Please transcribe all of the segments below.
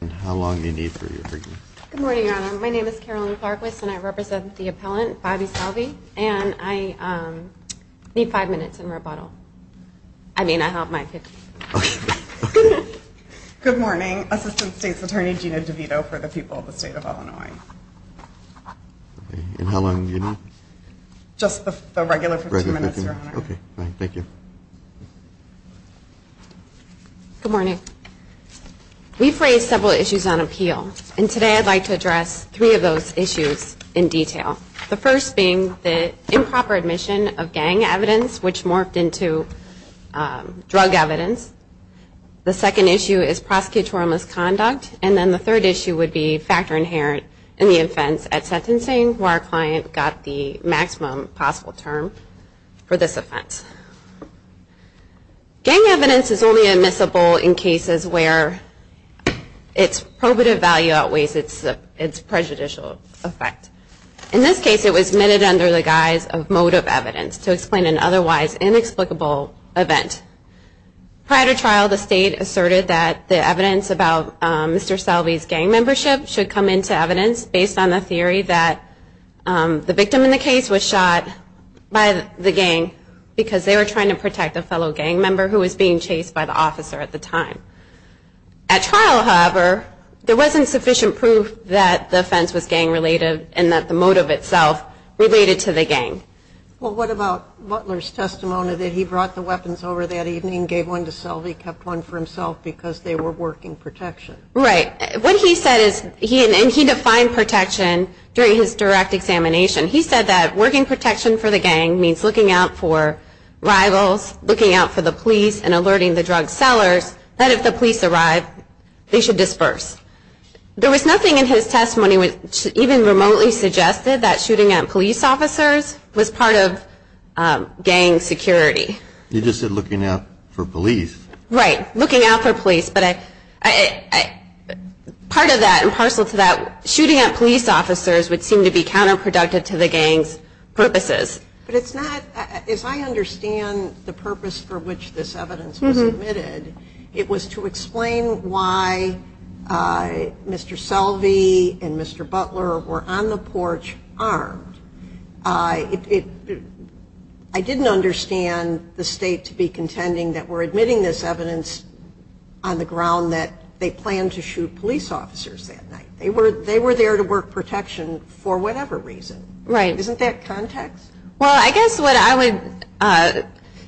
And how long do you need for your opinion? Good morning, Your Honor. My name is Carolyn Clarquist, and I represent the appellant, Bobby Selvie. And I need five minutes in rebuttal. I mean, I have my 15 minutes. Okay. Good morning. Assistant State's Attorney Gina DeVito for the people of the state of Illinois. And how long do you need? Just the regular 15 minutes, Your Honor. Regular 15. Okay. Thank you. Good morning. We've raised several issues on appeal. And today I'd like to address three of those issues in detail. The first being the improper admission of gang evidence, which morphed into drug evidence. The second issue is prosecutorial misconduct. And then the third issue would be factor inherent in the offense at sentencing, where our client got the maximum possible term for this offense. Gang evidence is only admissible in cases where its probative value outweighs its prejudicial effect. In this case, it was admitted under the guise of motive evidence to explain an otherwise inexplicable event. Prior to trial, the state asserted that the evidence about Mr. Selvie's gang membership should come into evidence based on the theory that the victim in the case was shot by the gang because they were trying to protect a fellow gang member who was being chased by the officer at the time. At trial, however, there wasn't sufficient proof that the offense was gang related and that the motive itself related to the gang. Well, what about Butler's testimony that he brought the weapons over that evening, gave one to Selvie, kept one for himself because they were working protection? Right. What he said is, and he defined protection during his direct examination, he said that working protection for the gang means looking out for rivals, looking out for the police, and alerting the drug sellers that if the police arrive, they should disperse. There was nothing in his testimony which even remotely suggested that shooting at police officers was part of gang security. You just said looking out for police. Right, looking out for police, but part of that, and parcel to that, shooting at police officers would seem to be counterproductive to the gang's purposes. But it's not, as I understand the purpose for which this evidence was submitted, it was to explain why Mr. Selvie and Mr. Butler were on the porch armed. I didn't understand the state to be contending that we're admitting this evidence on the ground that they planned to shoot police officers that night. They were there to work protection for whatever reason. Right. Isn't that context? Well, I guess what I would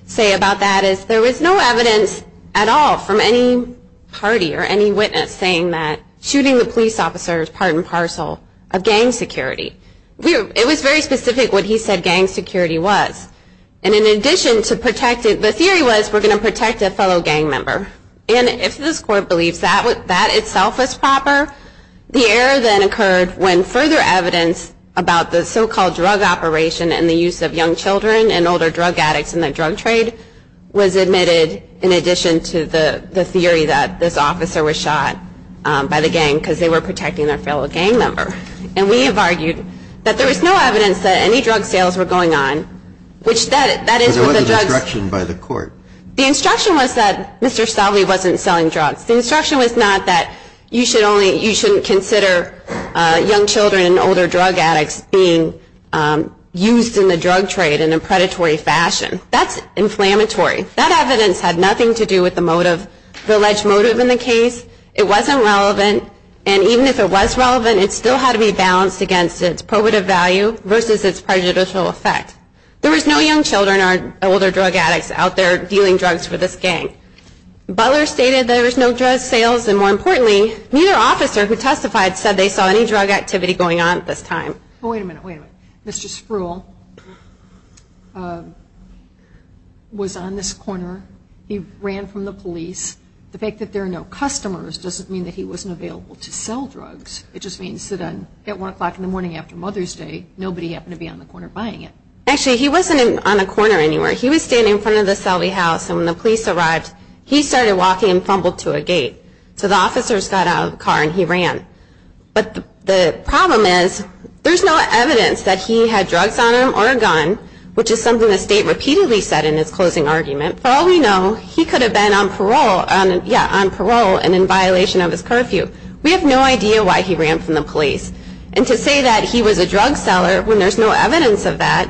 say about that is there was no evidence at all from any party or any witness saying that shooting the police officer was part and parcel of gang security. It was very specific what he said gang security was. And in addition to protecting, the theory was we're going to protect a fellow gang member. And if this court believes that itself was proper, the error then occurred when further evidence about the so-called drug operation and the use of young children and older drug addicts in the drug trade was admitted in addition to the theory that this officer was shot by the gang because they were protecting their fellow gang member. And we have argued that there was no evidence that any drug sales were going on, which that is what the drugs... But there wasn't instruction by the court. The instruction was that Mr. Selvie wasn't selling drugs. The instruction was not that you should only, you shouldn't consider young children and older drug addicts being used in the drug trade in a predatory fashion. That's inflammatory. That evidence had nothing to do with the motive, the alleged motive in the case. It wasn't relevant, and even if it was relevant, it still had to be balanced against its probative value versus its prejudicial effect. There was no young children or older drug addicts out there dealing drugs for this gang. Butler stated there was no drug sales, and more importantly, neither officer who testified said they saw any drug activity going on at this time. Wait a minute, wait a minute. Mr. Spruill was on this corner. He ran from the police. The fact that there are no customers doesn't mean that he wasn't available to sell drugs. It just means that at 1 o'clock in the morning after Mother's Day, nobody happened to be on the corner buying it. Actually, he wasn't on a corner anywhere. He was standing in front of the Selvie house, and when the police arrived, he started walking and fumbled to a gate. So the officers got out of the car and he ran. But the problem is there's no evidence that he had drugs on him or a gun, which is something the state repeatedly said in its closing argument. For all we know, he could have been on parole and in violation of his curfew. We have no idea why he ran from the police. And to say that he was a drug seller when there's no evidence of that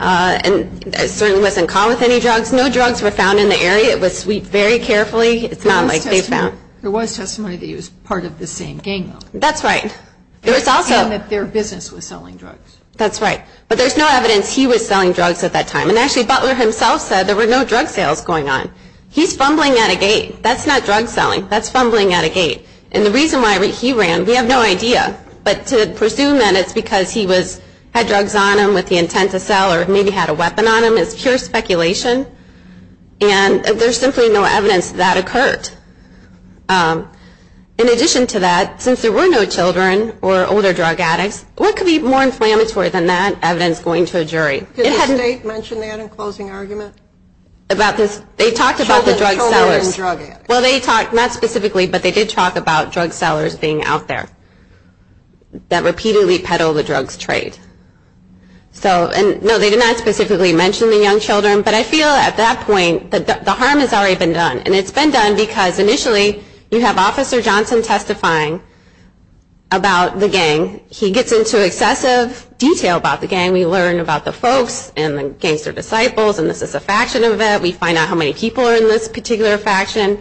and certainly wasn't caught with any drugs. No drugs were found in the area. It was sweeped very carefully. It's not like they found. There was testimony that he was part of the same gang, though. That's right. And that their business was selling drugs. That's right. But there's no evidence he was selling drugs at that time. And actually Butler himself said there were no drug sales going on. He's fumbling at a gate. That's not drug selling. That's fumbling at a gate. And the reason why he ran, we have no idea. But to presume that it's because he had drugs on him with the intent to sell or maybe had a weapon on him is pure speculation. And there's simply no evidence that that occurred. In addition to that, since there were no children or older drug addicts, what could be more inflammatory than that evidence going to a jury? Did the state mention that in closing argument? They talked about the drug sellers. Children and drug addicts. Well, they talked not specifically, but they did talk about drug sellers being out there that repeatedly peddle the drugs trade. No, they did not specifically mention the young children, but I feel at that point that the harm has already been done. And it's been done because initially you have Officer Johnson testifying about the gang. He gets into excessive detail about the gang. And we learn about the folks and the gangster disciples. And this is a faction of it. We find out how many people are in this particular faction.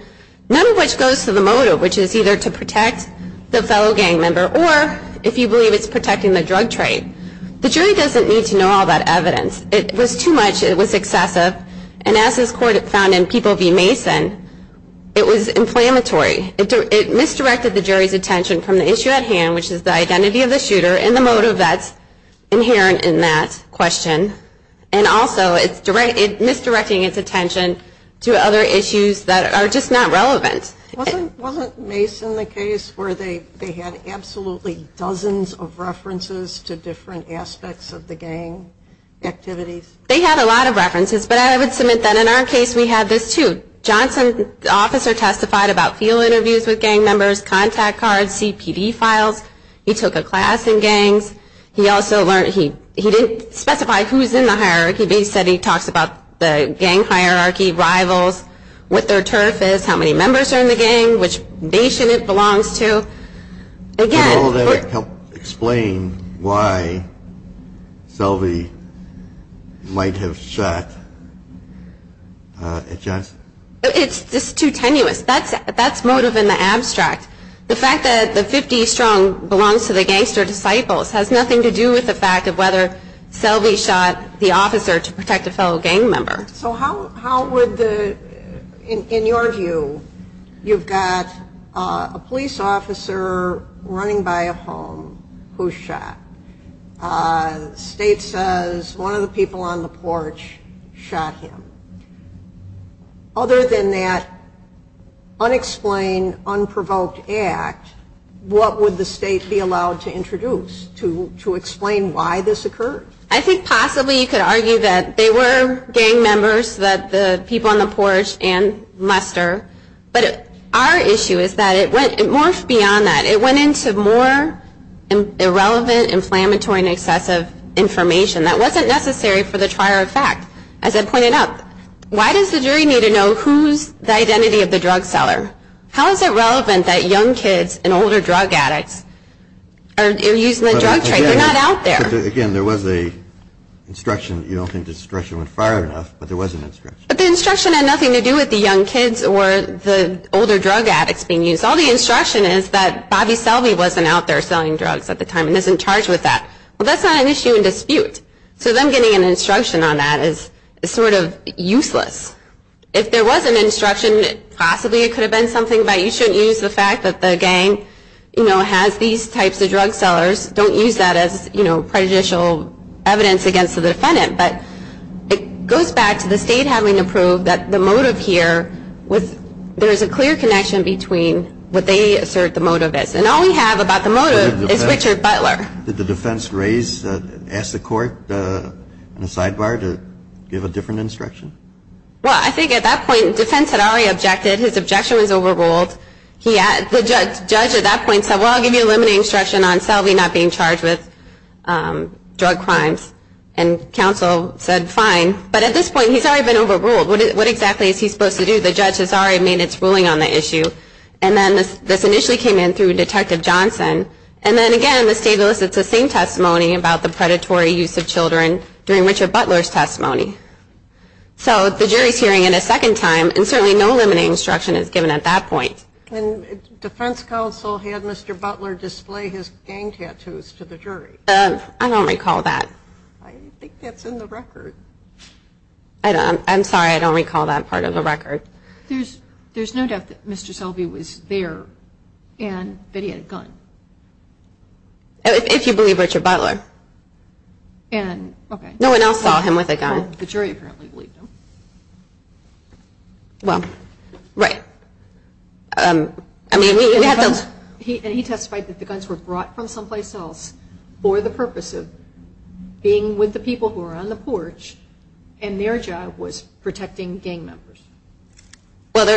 None of which goes to the motive, which is either to protect the fellow gang member or if you believe it's protecting the drug trade. The jury doesn't need to know all that evidence. It was too much. It was excessive. And as this court found in People v. Mason, it was inflammatory. It misdirected the jury's attention from the issue at hand, which is the identity of the shooter and the motive that's inherent in that question. And also it's misdirecting its attention to other issues that are just not relevant. Wasn't Mason the case where they had absolutely dozens of references to different aspects of the gang activities? They had a lot of references. But I would submit that in our case we had this too. Johnson, the officer testified about field interviews with gang members, contact cards, CPD files. He took a class in gangs. He also learned he didn't specify who's in the hierarchy, but he said he talks about the gang hierarchy, rivals, what their turf is, how many members are in the gang, which nation it belongs to. Can all that help explain why Selvey might have shot at Johnson? It's just too tenuous. That's motive in the abstract. The fact that the 50 strong belongs to the gangster disciples has nothing to do with the fact of whether Selvey shot the officer to protect a fellow gang member. So how would the, in your view, you've got a police officer running by a home who's shot. State says one of the people on the porch shot him. Other than that unexplained, unprovoked act, what would the state be allowed to introduce to explain why this occurred? I think possibly you could argue that they were gang members, that the people on the porch and Lester. But our issue is that it went beyond that. It went into more irrelevant, inflammatory, and excessive information. That wasn't necessary for the trier of fact. As I pointed out, why does the jury need to know who's the identity of the drug seller? How is it relevant that young kids and older drug addicts are using the drug trade? They're not out there. Again, there was a instruction. You don't think the instruction went far enough, but there was an instruction. But the instruction had nothing to do with the young kids or the older drug addicts being used. All the instruction is that Bobby Selvey wasn't out there selling drugs at the time and is in charge with that. Well, that's not an issue in dispute. So them getting an instruction on that is sort of useless. If there was an instruction, possibly it could have been something about you shouldn't use the fact that the gang, you know, has these types of drug sellers. Don't use that as, you know, prejudicial evidence against the defendant. But it goes back to the state having to prove that the motive here, there's a clear connection between what they assert the motive is. And all we have about the motive is Richard Butler. Did the defense raise, ask the court on the sidebar to give a different instruction? Well, I think at that point defense had already objected. His objection was overruled. The judge at that point said, well, I'll give you a limiting instruction on Selvey not being charged with drug crimes. And counsel said fine. But at this point he's already been overruled. What exactly is he supposed to do? The judge has already made its ruling on the issue. And then this initially came in through Detective Johnson. And then, again, the state elicits the same testimony about the predatory use of children during Richard Butler's testimony. So the jury is hearing it a second time. And certainly no limiting instruction is given at that point. And defense counsel had Mr. Butler display his gang tattoos to the jury. I don't recall that. I think that's in the record. I'm sorry. I don't recall that part of the record. There's no doubt that Mr. Selvey was there and that he had a gun. If you believe Richard Butler. And, okay. No one else saw him with a gun. Well, the jury apparently believed him. Well, right. I mean, he had those. And he testified that the guns were brought from someplace else for the purpose of being with the people who were on the porch and their job was protecting gang members. Well,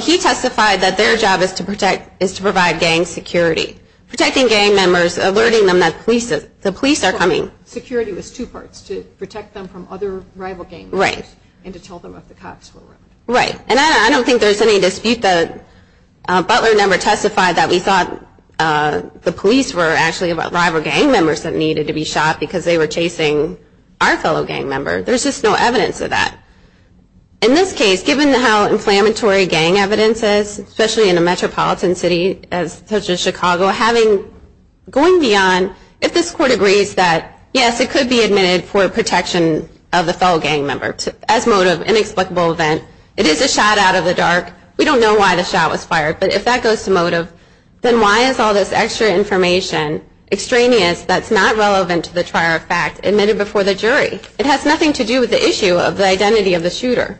he testified that their job is to provide gang security, protecting gang members, alerting them that the police are coming. Security was two parts, to protect them from other rival gang members. Right. And to tell them if the cops were around. Right. And I don't think there's any dispute that Butler never testified that we thought the police were actually rival gang members that needed to be shot because they were chasing our fellow gang member. There's just no evidence of that. In this case, given how inflammatory gang evidence is, especially in a metropolitan city such as Chicago, going beyond if this court agrees that, yes, it could be admitted for protection of the fellow gang member as motive, inexplicable event, it is a shot out of the dark, we don't know why the shot was fired, but if that goes to motive, then why is all this extra information, extraneous, that's not relevant to the prior fact, admitted before the jury? It has nothing to do with the issue of the identity of the shooter.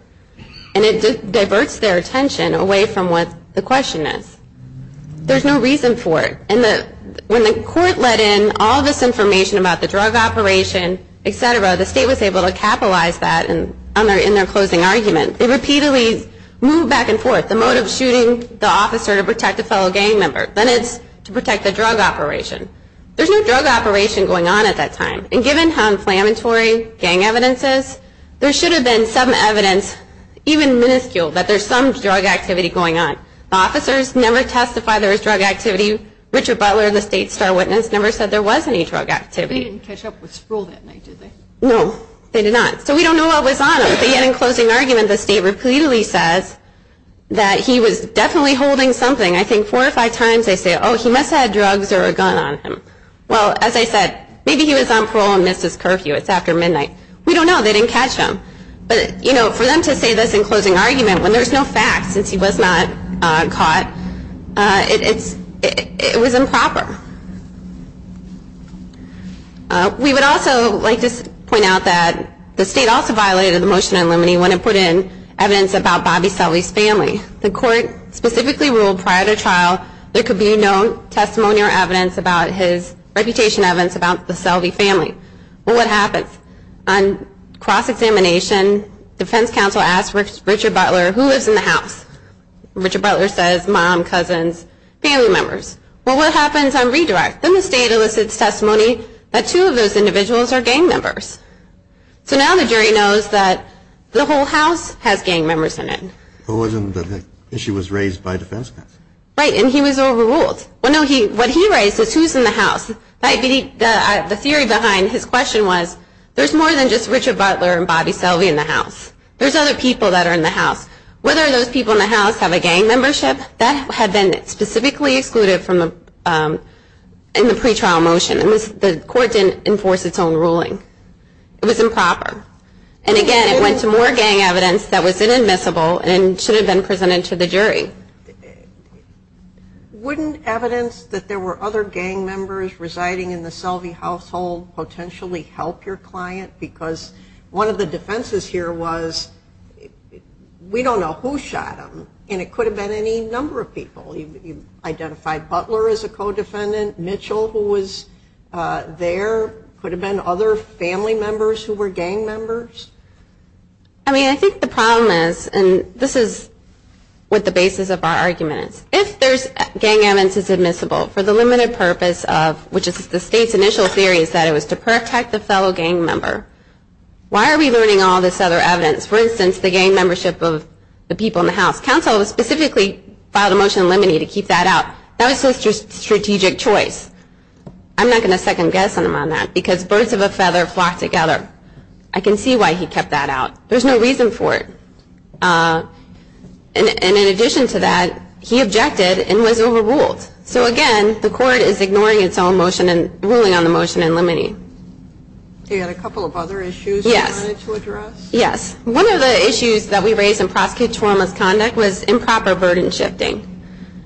And it diverts their attention away from what the question is. There's no reason for it. And when the court let in all this information about the drug operation, et cetera, the state was able to capitalize that in their closing argument. It repeatedly moved back and forth, the motive of shooting the officer to protect a fellow gang member. Then it's to protect the drug operation. There's no drug operation going on at that time. And given how inflammatory gang evidence is, there should have been some evidence, even minuscule, that there's some drug activity going on. The officers never testified there was drug activity. Richard Butler, the state's star witness, never said there was any drug activity. They didn't catch up with Sproul that night, did they? No, they did not. So we don't know what was on him. But yet in closing argument, the state repeatedly says that he was definitely holding something. I think four or five times they say, oh, he must have had drugs or a gun on him. Well, as I said, maybe he was on parole and missed his curfew. It's after midnight. We don't know. They didn't catch him. But, you know, for them to say this in closing argument, when there's no facts, since he was not caught, it was improper. We would also like to point out that the state also violated the motion to eliminate when it put in evidence about Bobby Sully's family. The court specifically ruled prior to trial there could be no testimony or evidence about his reputation, evidence about the Sully family. Well, what happens? On cross-examination, defense counsel asks Richard Butler, who lives in the house? Richard Butler says mom, cousins, family members. Well, what happens on redirect? Then the state elicits testimony that two of those individuals are gang members. So now the jury knows that the whole house has gang members in it. But wasn't the issue was raised by defense counsel? Right, and he was overruled. Well, no, what he raised is who's in the house. The theory behind his question was there's more than just Richard Butler and Bobby Sully in the house. There's other people that are in the house. Whether those people in the house have a gang membership, that had been specifically excluded in the pretrial motion. The court didn't enforce its own ruling. It was improper. And, again, it went to more gang evidence that was inadmissible and should have been presented to the jury. Right. Wouldn't evidence that there were other gang members residing in the Selvey household potentially help your client? Because one of the defenses here was we don't know who shot him, and it could have been any number of people. You identified Butler as a co-defendant. Mitchell, who was there, could have been other family members who were gang members. I mean, I think the problem is, and this is what the basis of our argument is, if gang evidence is admissible for the limited purpose of, which is the state's initial theory is that it was to protect the fellow gang member, why are we learning all this other evidence? For instance, the gang membership of the people in the house. Counsel specifically filed a motion in limine to keep that out. That was just strategic choice. I'm not going to second-guess him on that because birds of a feather flock together. I can see why he kept that out. There's no reason for it. And in addition to that, he objected and was overruled. So, again, the court is ignoring its own ruling on the motion in limine. You had a couple of other issues you wanted to address? Yes. One of the issues that we raised in prosecutorial misconduct was improper burden shifting.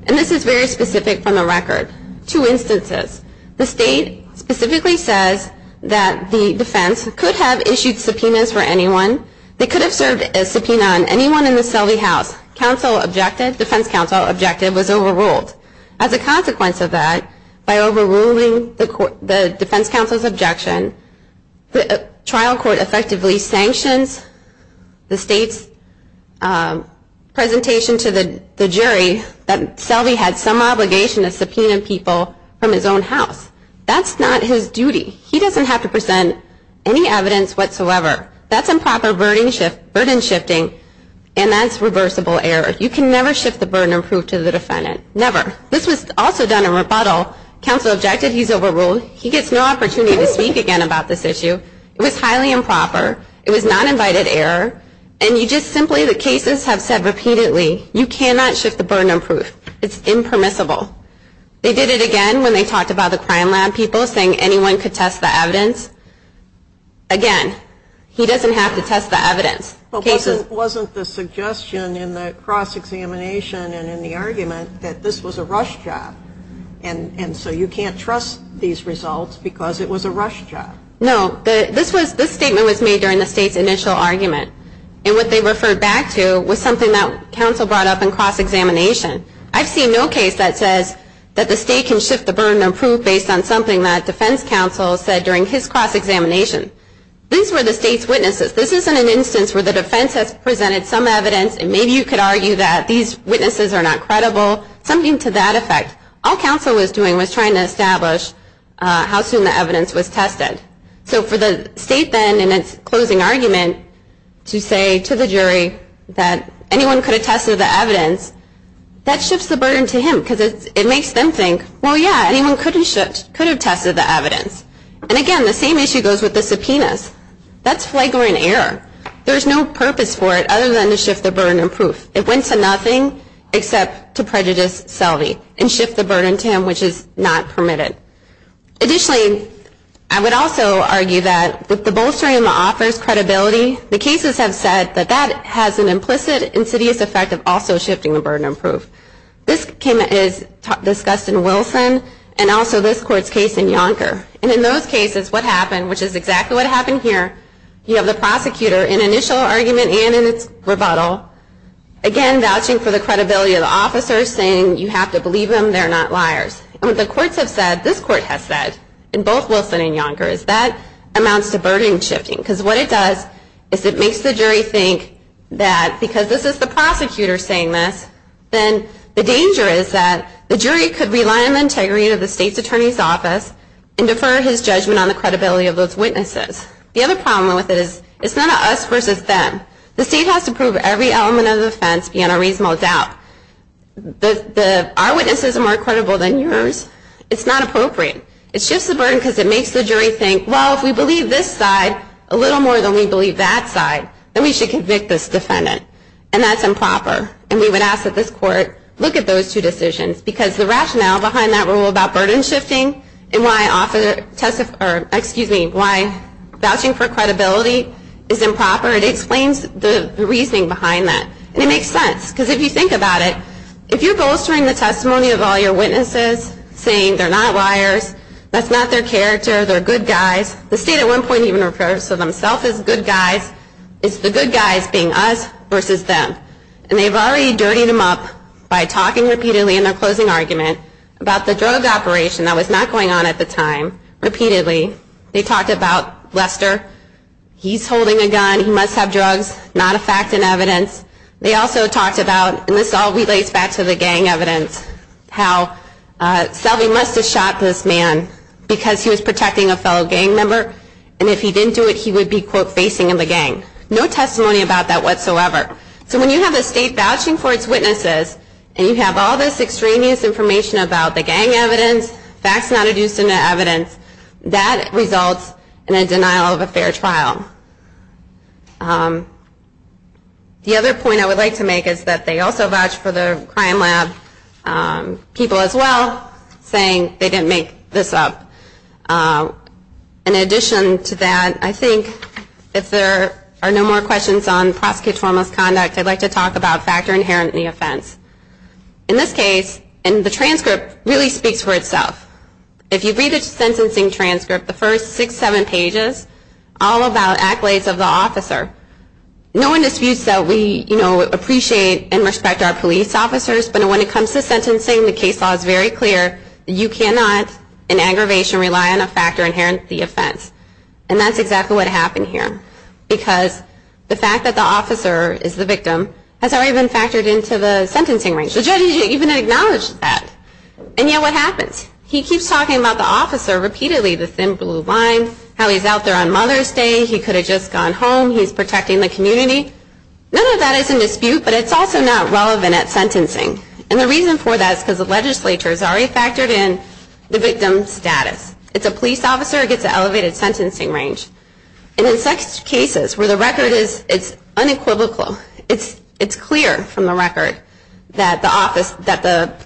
And this is very specific from the record. Two instances. The state specifically says that the defense could have issued subpoenas for anyone. They could have served a subpoena on anyone in the Selvey house. Defense counsel objective was overruled. As a consequence of that, by overruling the defense counsel's objection, the trial court effectively sanctions the state's presentation to the jury that Selvey had some obligation to subpoena people from his own house. That's not his duty. He doesn't have to present any evidence whatsoever. That's improper burden shifting, and that's reversible error. You can never shift the burden of proof to the defendant. Never. This was also done in rebuttal. Counsel objected. He's overruled. He gets no opportunity to speak again about this issue. It was highly improper. It was not invited error. And you just simply, the cases have said repeatedly, you cannot shift the burden of proof. It's impermissible. They did it again when they talked about the crime lab people saying anyone could test the evidence. Again, he doesn't have to test the evidence. Wasn't the suggestion in the cross-examination and in the argument that this was a rush job, and so you can't trust these results because it was a rush job? No. This statement was made during the state's initial argument, and what they referred back to was something that counsel brought up in cross-examination. I've seen no case that says that the state can shift the burden of proof based on something that defense counsel said during his cross-examination. These were the state's witnesses. This isn't an instance where the defense has presented some evidence, and maybe you could argue that these witnesses are not credible, something to that effect. All counsel was doing was trying to establish how soon the evidence was tested. So for the state then in its closing argument to say to the jury that anyone could have tested the evidence, that shifts the burden to him because it makes them think, well, yeah, anyone could have tested the evidence. And, again, the same issue goes with the subpoenas. That's flagrant error. There's no purpose for it other than to shift the burden of proof. It went to nothing except to prejudice Selvey and shift the burden to him, which is not permitted. Additionally, I would also argue that with the bolstering of the author's credibility, the cases have said that that has an implicit insidious effect of also shifting the burden of proof. This came as discussed in Wilson and also this court's case in Yonker. And in those cases, what happened, which is exactly what happened here, you have the prosecutor in initial argument and in its rebuttal, again, vouching for the credibility of the officers, saying you have to believe them, they're not liars. And what the courts have said, this court has said, in both Wilson and Yonker, is that amounts to burden shifting. Because what it does is it makes the jury think that because this is the prosecutor saying this, then the danger is that the jury could rely on the integrity of the state's attorney's office and defer his judgment on the credibility of those witnesses. The other problem with it is it's not an us versus them. The state has to prove every element of the offense beyond a reasonable doubt. Our witnesses are more credible than yours. It's not appropriate. It shifts the burden because it makes the jury think, well, if we believe this side a little more than we believe that side, then we should convict this defendant. And that's improper. And we would ask that this court look at those two decisions because the rationale behind that rule about burden shifting and why vouching for credibility is improper, it explains the reasoning behind that. And it makes sense because if you think about it, if you're bolstering the testimony of all your witnesses saying they're not liars, that's not their character, they're good guys, the state at one point even referred to themselves as good guys, it's the good guys being us versus them. And they've already dirtied them up by talking repeatedly in their closing argument about the drug operation that was not going on at the time, repeatedly. They talked about Lester, he's holding a gun, he must have drugs, not a fact in evidence. They also talked about, and this all relates back to the gang evidence, how Selby must have shot this man because he was protecting a fellow gang member, and if he didn't do it, he would be, quote, facing in the gang. No testimony about that whatsoever. So when you have the state vouching for its witnesses, and you have all this extraneous information about the gang evidence, facts not adduced into evidence, that results in a denial of a fair trial. The other point I would like to make is that they also vouch for the crime lab people as well, saying they didn't make this up. In addition to that, I think if there are no more questions on prosecutorial misconduct, I'd like to talk about factor inherent in the offense. In this case, and the transcript really speaks for itself, if you read the sentencing transcript, the first six, seven pages, all about accolades of the officer. No one disputes that we appreciate and respect our police officers, but when it comes to sentencing, the case law is very clear, you cannot, in aggravation, rely on a factor inherent to the offense. And that's exactly what happened here, because the fact that the officer is the victim has already been factored into the sentencing range. The judge didn't even acknowledge that. And yet what happens? He keeps talking about the officer repeatedly, the thin blue line, how he's out there on Mother's Day, he could have just gone home, he's protecting the community. None of that is in dispute, but it's also not relevant at sentencing. And the reason for that is because the legislature has already factored in the victim's status. If it's a police officer, it gets an elevated sentencing range. And in such cases where the record is unequivocal, it's clear from the record that the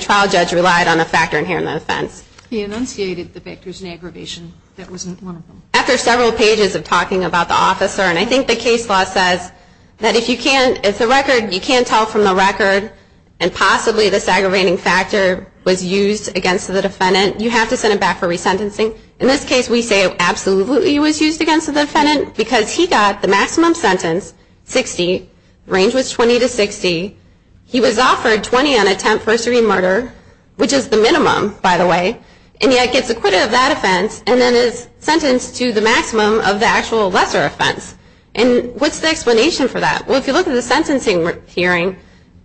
trial judge relied on a factor inherent in the offense. He enunciated the factors in aggravation. That wasn't one of them. After several pages of talking about the officer, and I think the case law says that if you can't tell from the record and possibly this aggravating factor was used against the defendant, you have to send him back for resentencing. In this case, we say it absolutely was used against the defendant because he got the maximum sentence, 60, range was 20 to 60, he was offered 20 on attempt for a serene murder, which is the minimum, by the way, and yet gets acquitted of that offense and then is sentenced to the maximum of the actual lesser offense. And what's the explanation for that? Well, if you look at the sentencing hearing,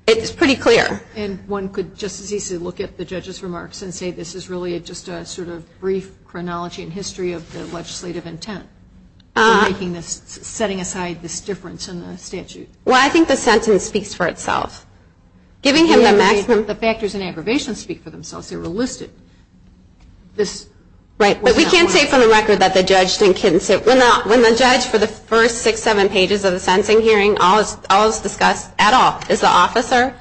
it's pretty clear. And one could just as easily look at the judge's remarks and say this is really just a sort of brief chronology and history of the legislative intent for setting aside this difference in the statute. Well, I think the sentence speaks for itself. The factors in aggravation speak for themselves. They were listed. But we can't say from the record that the judge didn't kidnap him. When the judge, for the first six, seven pages of the sentencing hearing, all is discussed at all is the officer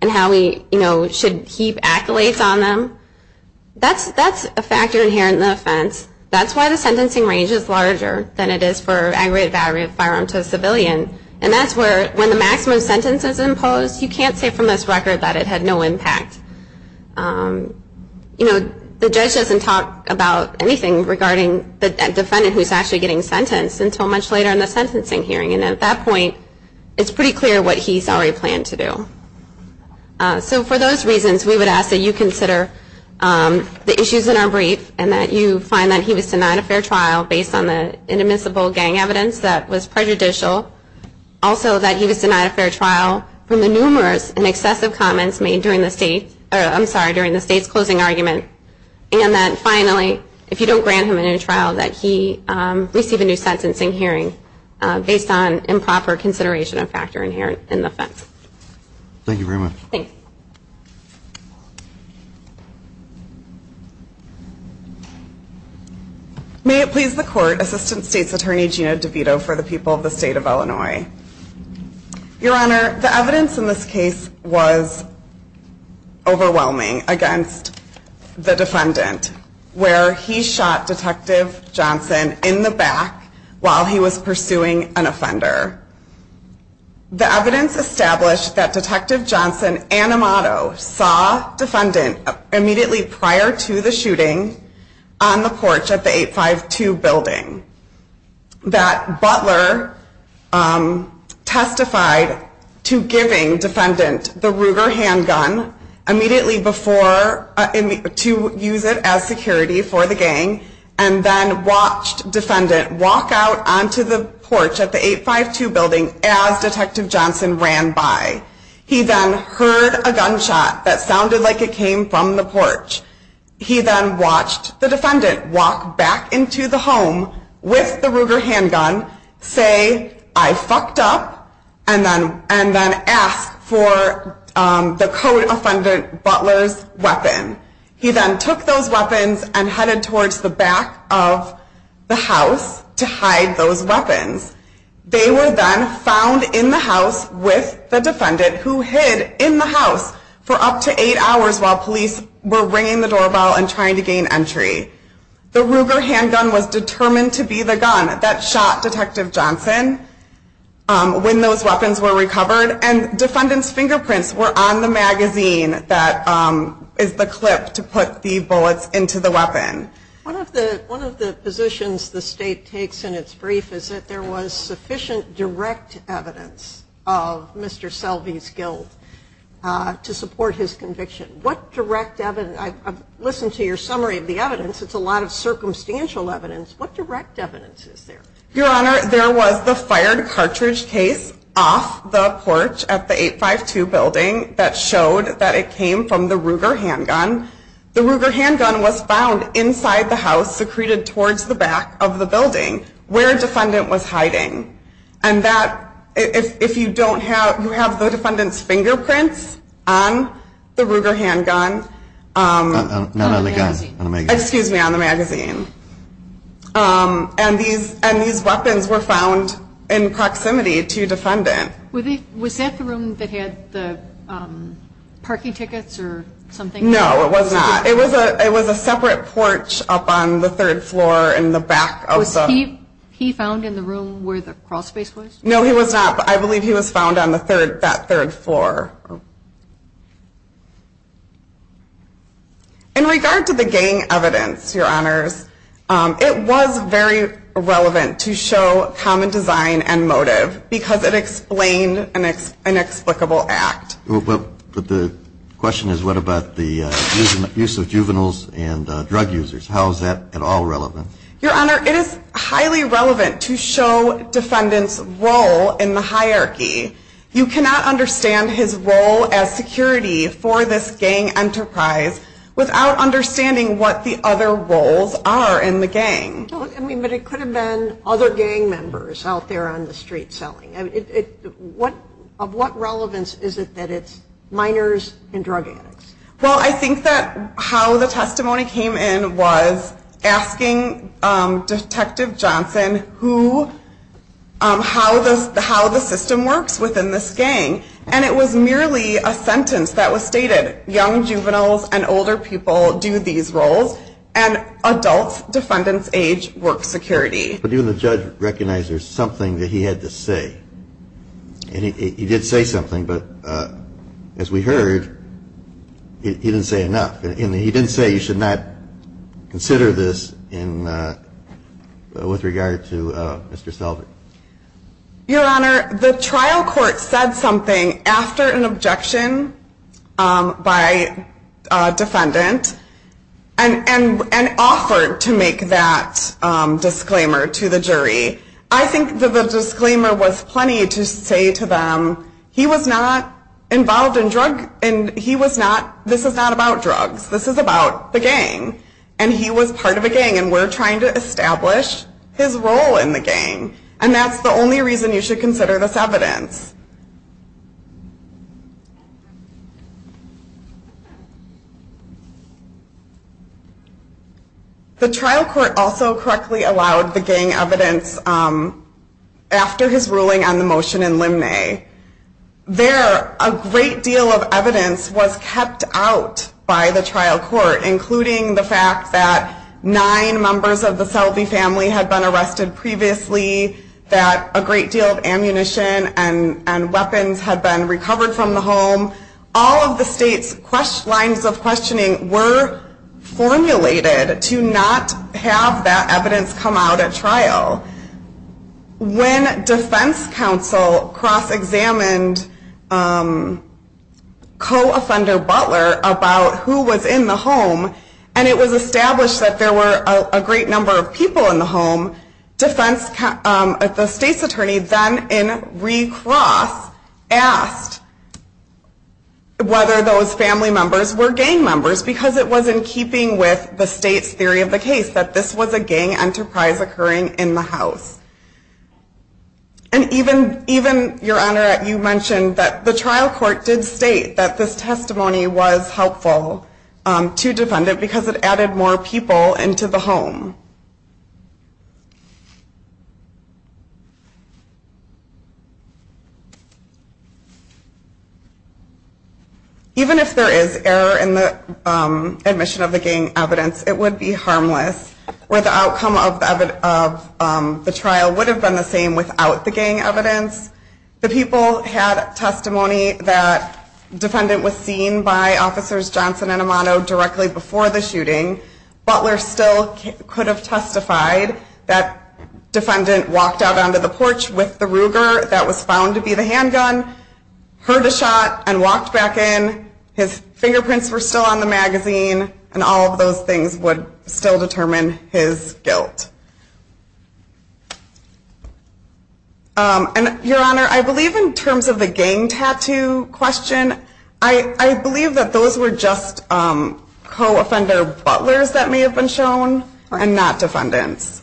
and how he should heap accolades on them. That's a factor inherent in the offense. That's why the sentencing range is larger than it is for aggravated battery of a firearm to a civilian. And that's where, when the maximum sentence is imposed, you can't say from this record that it had no impact. You know, the judge doesn't talk about anything regarding the defendant who's actually getting sentenced until much later in the sentencing hearing. And at that point, it's pretty clear what he's already planned to do. So for those reasons, we would ask that you consider the issues in our brief and that you find that he was denied a fair trial based on the inadmissible gang evidence that was prejudicial, also that he was denied a fair trial from the numerous and excessive comments made during the state's closing argument, and that finally, if you don't grant him a new trial, that he receive a new sentencing hearing based on improper consideration of factor inherent in the offense. Thank you very much. Thanks. May it please the court, Assistant State's Attorney Gina DeVito for the people of the state of Illinois. Your Honor, the evidence in this case was overwhelming against the defendant where he shot Detective Johnson in the back while he was pursuing an offender. The evidence established that Detective Johnson and Amato saw Defendant Johnson immediately prior to the shooting on the porch of the 852 building. That butler testified to giving Defendant the Ruger handgun immediately before, to use it as security for the gang, and then watched Defendant walk out onto the porch of the 852 building as Detective Johnson ran by. He then heard a gunshot that sounded like it came from the porch. He then watched the defendant walk back into the home with the Ruger handgun, say, I fucked up, and then ask for the co-offendant butler's weapon. He then took those weapons and headed towards the back of the house to hide those weapons. They were then found in the house with the defendant who hid in the house for up to eight hours while police were ringing the doorbell and trying to gain entry. The Ruger handgun was determined to be the gun that shot Detective Johnson when those weapons were recovered, and Defendant's fingerprints were on the magazine that is the clip to put the bullets into the weapon. One of the positions the state takes in its brief is that there was sufficient direct evidence of Mr. Selvey's guilt to support his conviction. What direct evidence? I've listened to your summary of the evidence. It's a lot of circumstantial evidence. What direct evidence is there? Your Honor, there was the fired cartridge case off the porch at the 852 building that showed that it came from the Ruger handgun. The Ruger handgun was found inside the house secreted towards the back of the building where Defendant was hiding. And that, if you don't have, you have the defendant's fingerprints on the Ruger handgun. Not on the gun. On the magazine. Excuse me, on the magazine. And these weapons were found in proximity to Defendant. Was that the room that had the parking tickets or something? No, it was not. It was a separate porch up on the third floor in the back. Was he found in the room where the crawl space was? No, he was not, but I believe he was found on that third floor. In regard to the gang evidence, Your Honors, it was very relevant to show common design and motive because it explained an inexplicable act. But the question is what about the use of juveniles and drug users? How is that at all relevant? Your Honor, it is highly relevant to show Defendant's role in the hierarchy. You cannot understand his role as security for this gang enterprise without understanding what the other roles are in the gang. But it could have been other gang members out there on the street selling. Of what relevance is it that it's minors and drug addicts? Well, I think that how the testimony came in was asking Detective Johnson how the system works within this gang. And it was merely a sentence that was stated, young juveniles and older people do these roles and adult Defendant's age work security. But even the judge recognized there was something that he had to say. And he did say something, but as we heard, he didn't say enough. He didn't say you should not consider this with regard to Mr. Selvig. Your Honor, the trial court said something after an objection by Defendant and offered to make that disclaimer to the jury. I think that the disclaimer was plenty to say to them, he was not involved in drug, and he was not, this is not about drugs. This is about the gang. And he was part of a gang, and we're trying to establish his role in the gang. And that's the only reason you should consider this evidence. The trial court also correctly allowed the gang evidence after his ruling on the motion in Limney. There, a great deal of evidence was kept out by the trial court, including the fact that nine members of the Selvig family had been arrested previously, that a great deal of ammunition and weapons had been recovered from the home. All of the state's lines of questioning were formulated to not have that evidence come out at trial. When defense counsel cross-examined co-offender Butler about who was in the home, and it was established that there were a great number of people in the home, the state's attorney then, in recross, asked whether those family members were gang members, because it was in keeping with the state's theory of the case that this was a gang enterprise occurring in the house. And even, Your Honor, you mentioned that the trial court did state that this testimony was helpful to defend it, because it added more people into the home. Even if there is error in the admission of the gang evidence, it would be harmless, where the outcome of the trial would have been the same without the gang evidence. The people had testimony that the defendant was seen by officers Johnson and Amato directly before the shooting. Butler still could have testified that the defendant walked out onto the porch with the Ruger that was found to be the handgun, heard a shot, and walked back in. His fingerprints were still on the magazine, and all of those things would still determine his guilt. Your Honor, I believe in terms of the gang tattoo question, I believe that those were just co-offender Butlers that may have been shown, and not defendants.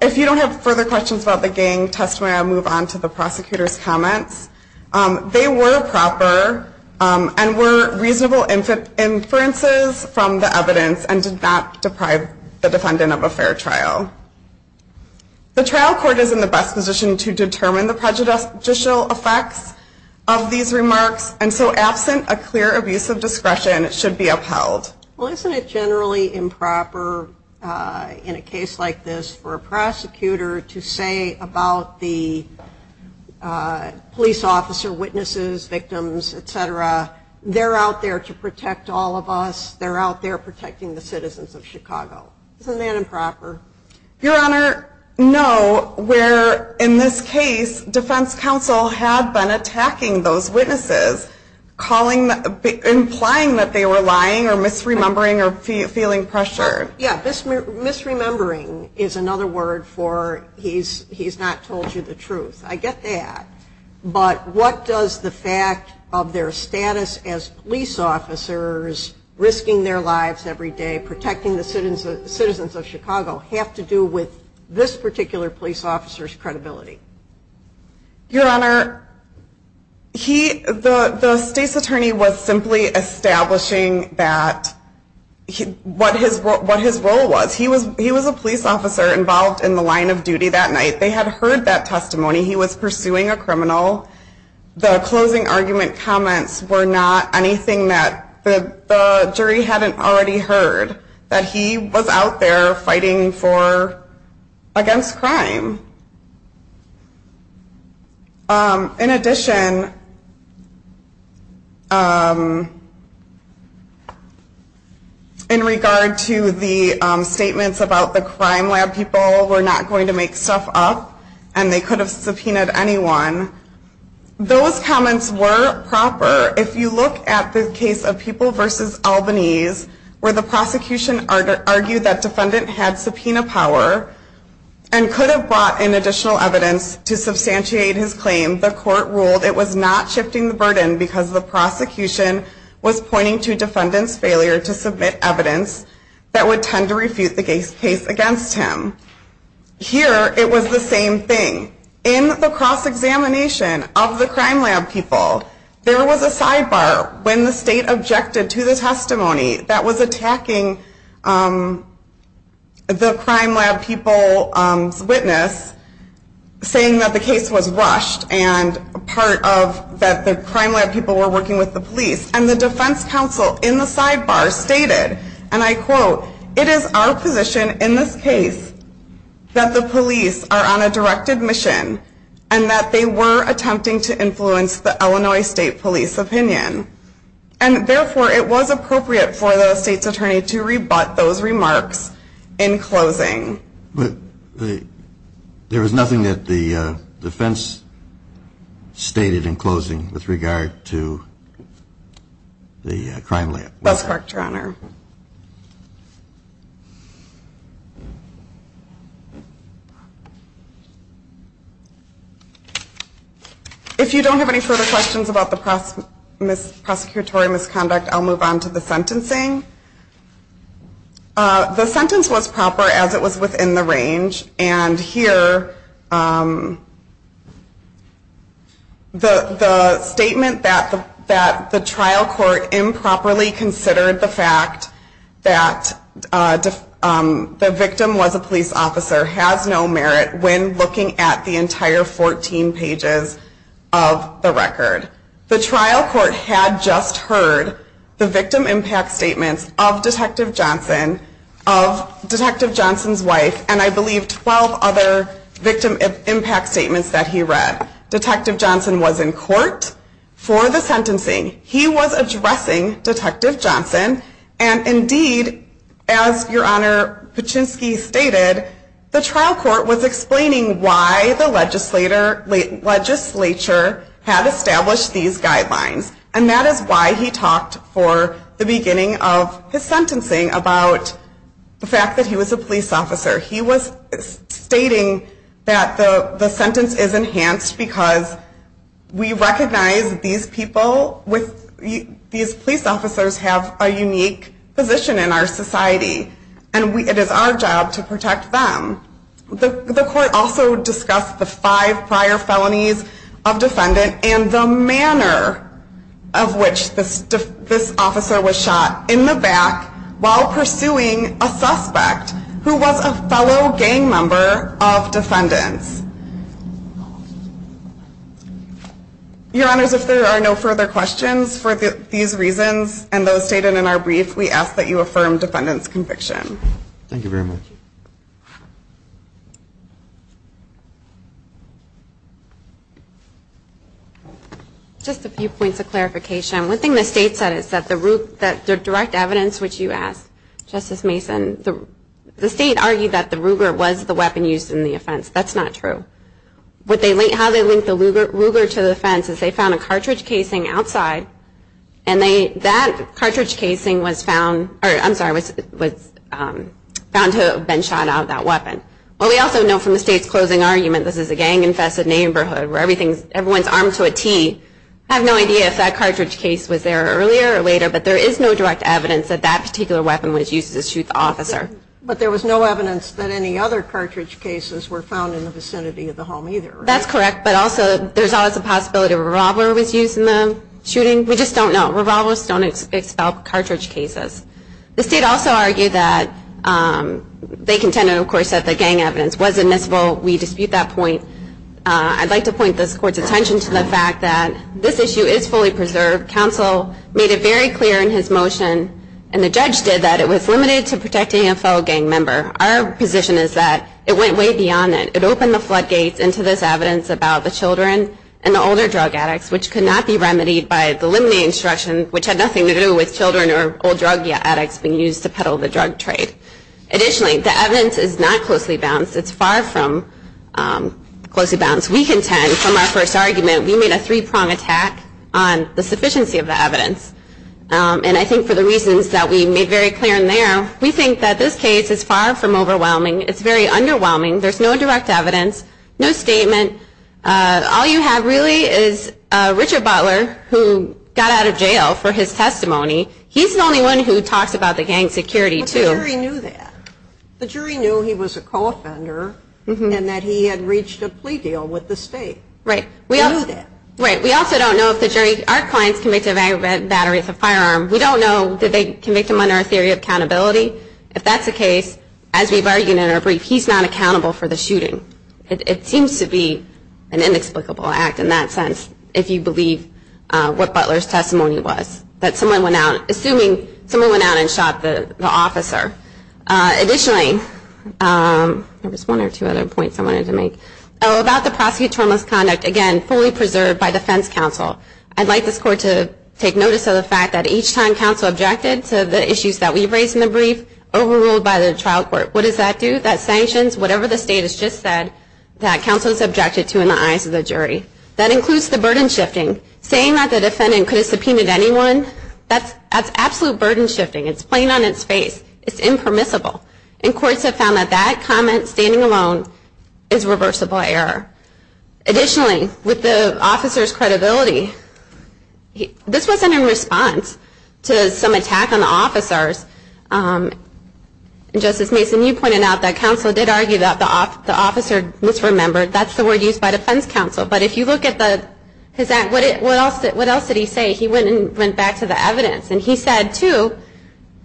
If you don't have further questions about the gang testimony, I'll move on to the prosecutor's comments. They were proper, and were reasonable inferences from the evidence, and did not deprive the defendant of a fair trial. The trial court is in the best position to determine the prejudicial effects of these remarks, and so absent a clear abuse of discretion, it should be upheld. Well, isn't it generally improper in a case like this for a prosecutor to say about the police officer, witnesses, victims, etc., they're out there to protect all of us, they're out there protecting the citizens of Chicago. Isn't that improper? Your Honor, no, where in this case, defense counsel had been attacking those witnesses, implying that they were lying or misremembering or feeling pressured. Yeah, misremembering is another word for he's not told you the truth. I get that, but what does the fact of their status as police officers risking their lives every day, protecting the citizens of Chicago, have to do with this particular police officer's credibility? Your Honor, the state's attorney was simply establishing what his role was. He was a police officer involved in the line of duty that night. They had heard that testimony. He was pursuing a criminal. The closing argument comments were not anything that the jury hadn't already heard, that he was out there fighting against crime. In addition, in regard to the statements about the crime lab people were not going to make stuff up and they could have subpoenaed anyone, those comments were proper. However, if you look at the case of People v. Albanese, where the prosecution argued that defendant had subpoena power and could have brought in additional evidence to substantiate his claim, the court ruled it was not shifting the burden because the prosecution was pointing to defendant's failure to submit evidence that would tend to refute the case against him. Here, it was the same thing. In the cross-examination of the crime lab people, there was a sidebar when the state objected to the testimony that was attacking the crime lab people's witness, saying that the case was rushed and that the crime lab people were working with the police. And the defense counsel in the sidebar stated, and I quote, it is our position in this case that the police are on a directed mission and that they were attempting to influence the Illinois State Police opinion. And therefore, it was appropriate for the state's attorney to rebut those remarks in closing. But there was nothing that the defense stated in closing with regard to the crime lab? That's correct, Your Honor. If you don't have any further questions about the prosecutorial misconduct, I'll move on to the sentencing. The sentence was proper as it was within the range. And here, the statement that the trial court improperly considered the fact that the victim was a police officer has no merit when looking at the entire 14 pages of the record. The trial court had just heard the victim impact statements of Detective Johnson, of Detective Johnson's wife, and I believe 12 other victim impact statements that he read. Detective Johnson was in court for the sentencing. He was addressing Detective Johnson. And indeed, as Your Honor Paczynski stated, the trial court was explaining why the legislature had established these guidelines. And that is why he talked for the beginning of his sentencing about the fact that he was a police officer. He was stating that the sentence is enhanced because we recognize these people, these police officers have a unique position in our society. And it is our job to protect them. The court also discussed the five prior felonies of defendant and the manner of which this officer was shot in the back while pursuing a suspect who was a fellow gang member of defendants. Your Honors, if there are no further questions for these reasons and those stated in our brief, we ask that you affirm defendant's conviction. Thank you very much. Just a few points of clarification. One thing the State said is that the direct evidence which you asked, Justice Mason, the State argued that the Ruger was the weapon used in the offense. That's not true. How they linked the Ruger to the offense is they found a cartridge casing outside and that cartridge casing was found to have been shot out of that weapon. What we also know from the State's closing argument, this is a gang infested neighborhood where everyone is armed to a T. I have no idea if that cartridge case was there earlier or later, but there is no direct evidence that that particular weapon was used to shoot the officer. But there was no evidence that any other cartridge cases were found in the vicinity of the home either. That's correct, but also there's always a possibility a revolver was used in the shooting. We just don't know. Revolvers don't expel cartridge cases. The State also argued that they contended, of course, that the gang evidence was admissible. We dispute that point. I'd like to point this Court's attention to the fact that this issue is fully preserved. Counsel made it very clear in his motion, and the judge did, that it was limited to protecting a fellow gang member. Our position is that it went way beyond that. It opened the floodgates into this evidence about the children and the older drug addicts, which could not be remedied by the limine instruction, which had nothing to do with children or old drug addicts being used to peddle the drug trade. Additionally, the evidence is not closely balanced. It's far from closely balanced. We contend, from our first argument, we made a three-prong attack on the sufficiency of the evidence. And I think for the reasons that we made very clear in there, we think that this case is far from overwhelming. It's very underwhelming. There's no direct evidence, no statement. All you have really is Richard Butler, who got out of jail for his testimony. He's the only one who talks about the gang security, too. But the jury knew that. The jury knew he was a co-offender and that he had reached a plea deal with the state. Right. They knew that. Right. We also don't know if the jury – our client's convicted of aggravated battery with a firearm. We don't know did they convict him under a theory of accountability. If that's the case, as we've argued in our brief, he's not accountable for the shooting. It seems to be an inexplicable act in that sense, if you believe what Butler's testimony was, that someone went out – assuming someone went out and shot the officer. Additionally, there was one or two other points I wanted to make. About the prosecutorial misconduct, again, fully preserved by defense counsel. I'd like this court to take notice of the fact that each time counsel objected to the issues that we've raised in the brief, overruled by the trial court. What does that do? That sanctions whatever the state has just said that counsel has objected to in the eyes of the jury. That includes the burden shifting. Saying that the defendant could have subpoenaed anyone, that's absolute burden shifting. It's plain on its face. It's impermissible. And courts have found that that comment, standing alone, is reversible error. Additionally, with the officer's credibility, this wasn't in response to some attack on the officers. Justice Mason, you pointed out that counsel did argue that the officer misremembered. That's the word used by defense counsel. But if you look at his act, what else did he say? He went back to the evidence. And he said, too,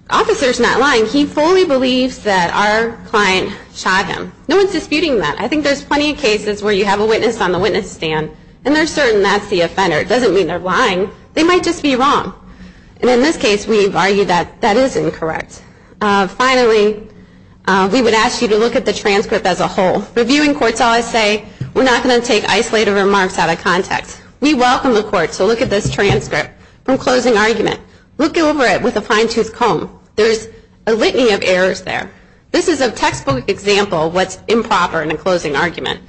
the officer's not lying. He fully believes that our client shot him. No one's disputing that. I think there's plenty of cases where you have a witness on the witness stand, and they're certain that's the offender. It doesn't mean they're lying. They might just be wrong. And in this case, we've argued that that is incorrect. Finally, we would ask you to look at the transcript as a whole. Reviewing courts always say, we're not going to take isolated remarks out of context. We welcome the court to look at this transcript from closing argument. Look over it with a fine-tooth comb. There's a litany of errors there. This is a textbook example of what's improper in a closing argument.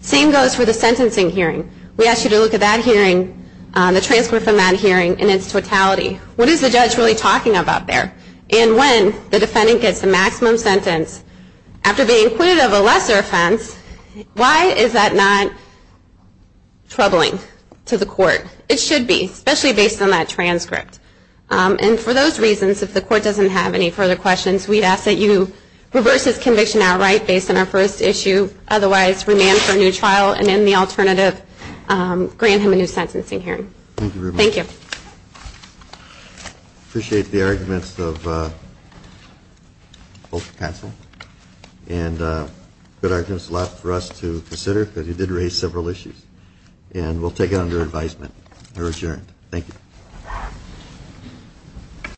Same goes for the sentencing hearing. We ask you to look at that hearing, the transcript from that hearing, in its totality. What is the judge really talking about there? And when the defendant gets the maximum sentence after being acquitted of a lesser offense, why is that not troubling to the court? It should be, especially based on that transcript. And for those reasons, if the court doesn't have any further questions, we'd ask that you reverse this conviction outright based on our first issue. Otherwise, remand for a new trial, and in the alternative, grant him a new sentencing hearing. Thank you very much. Thank you. Appreciate the arguments of both counsel. And good arguments left for us to consider because you did raise several issues. And we'll take it under advisement. You're adjourned. Thank you.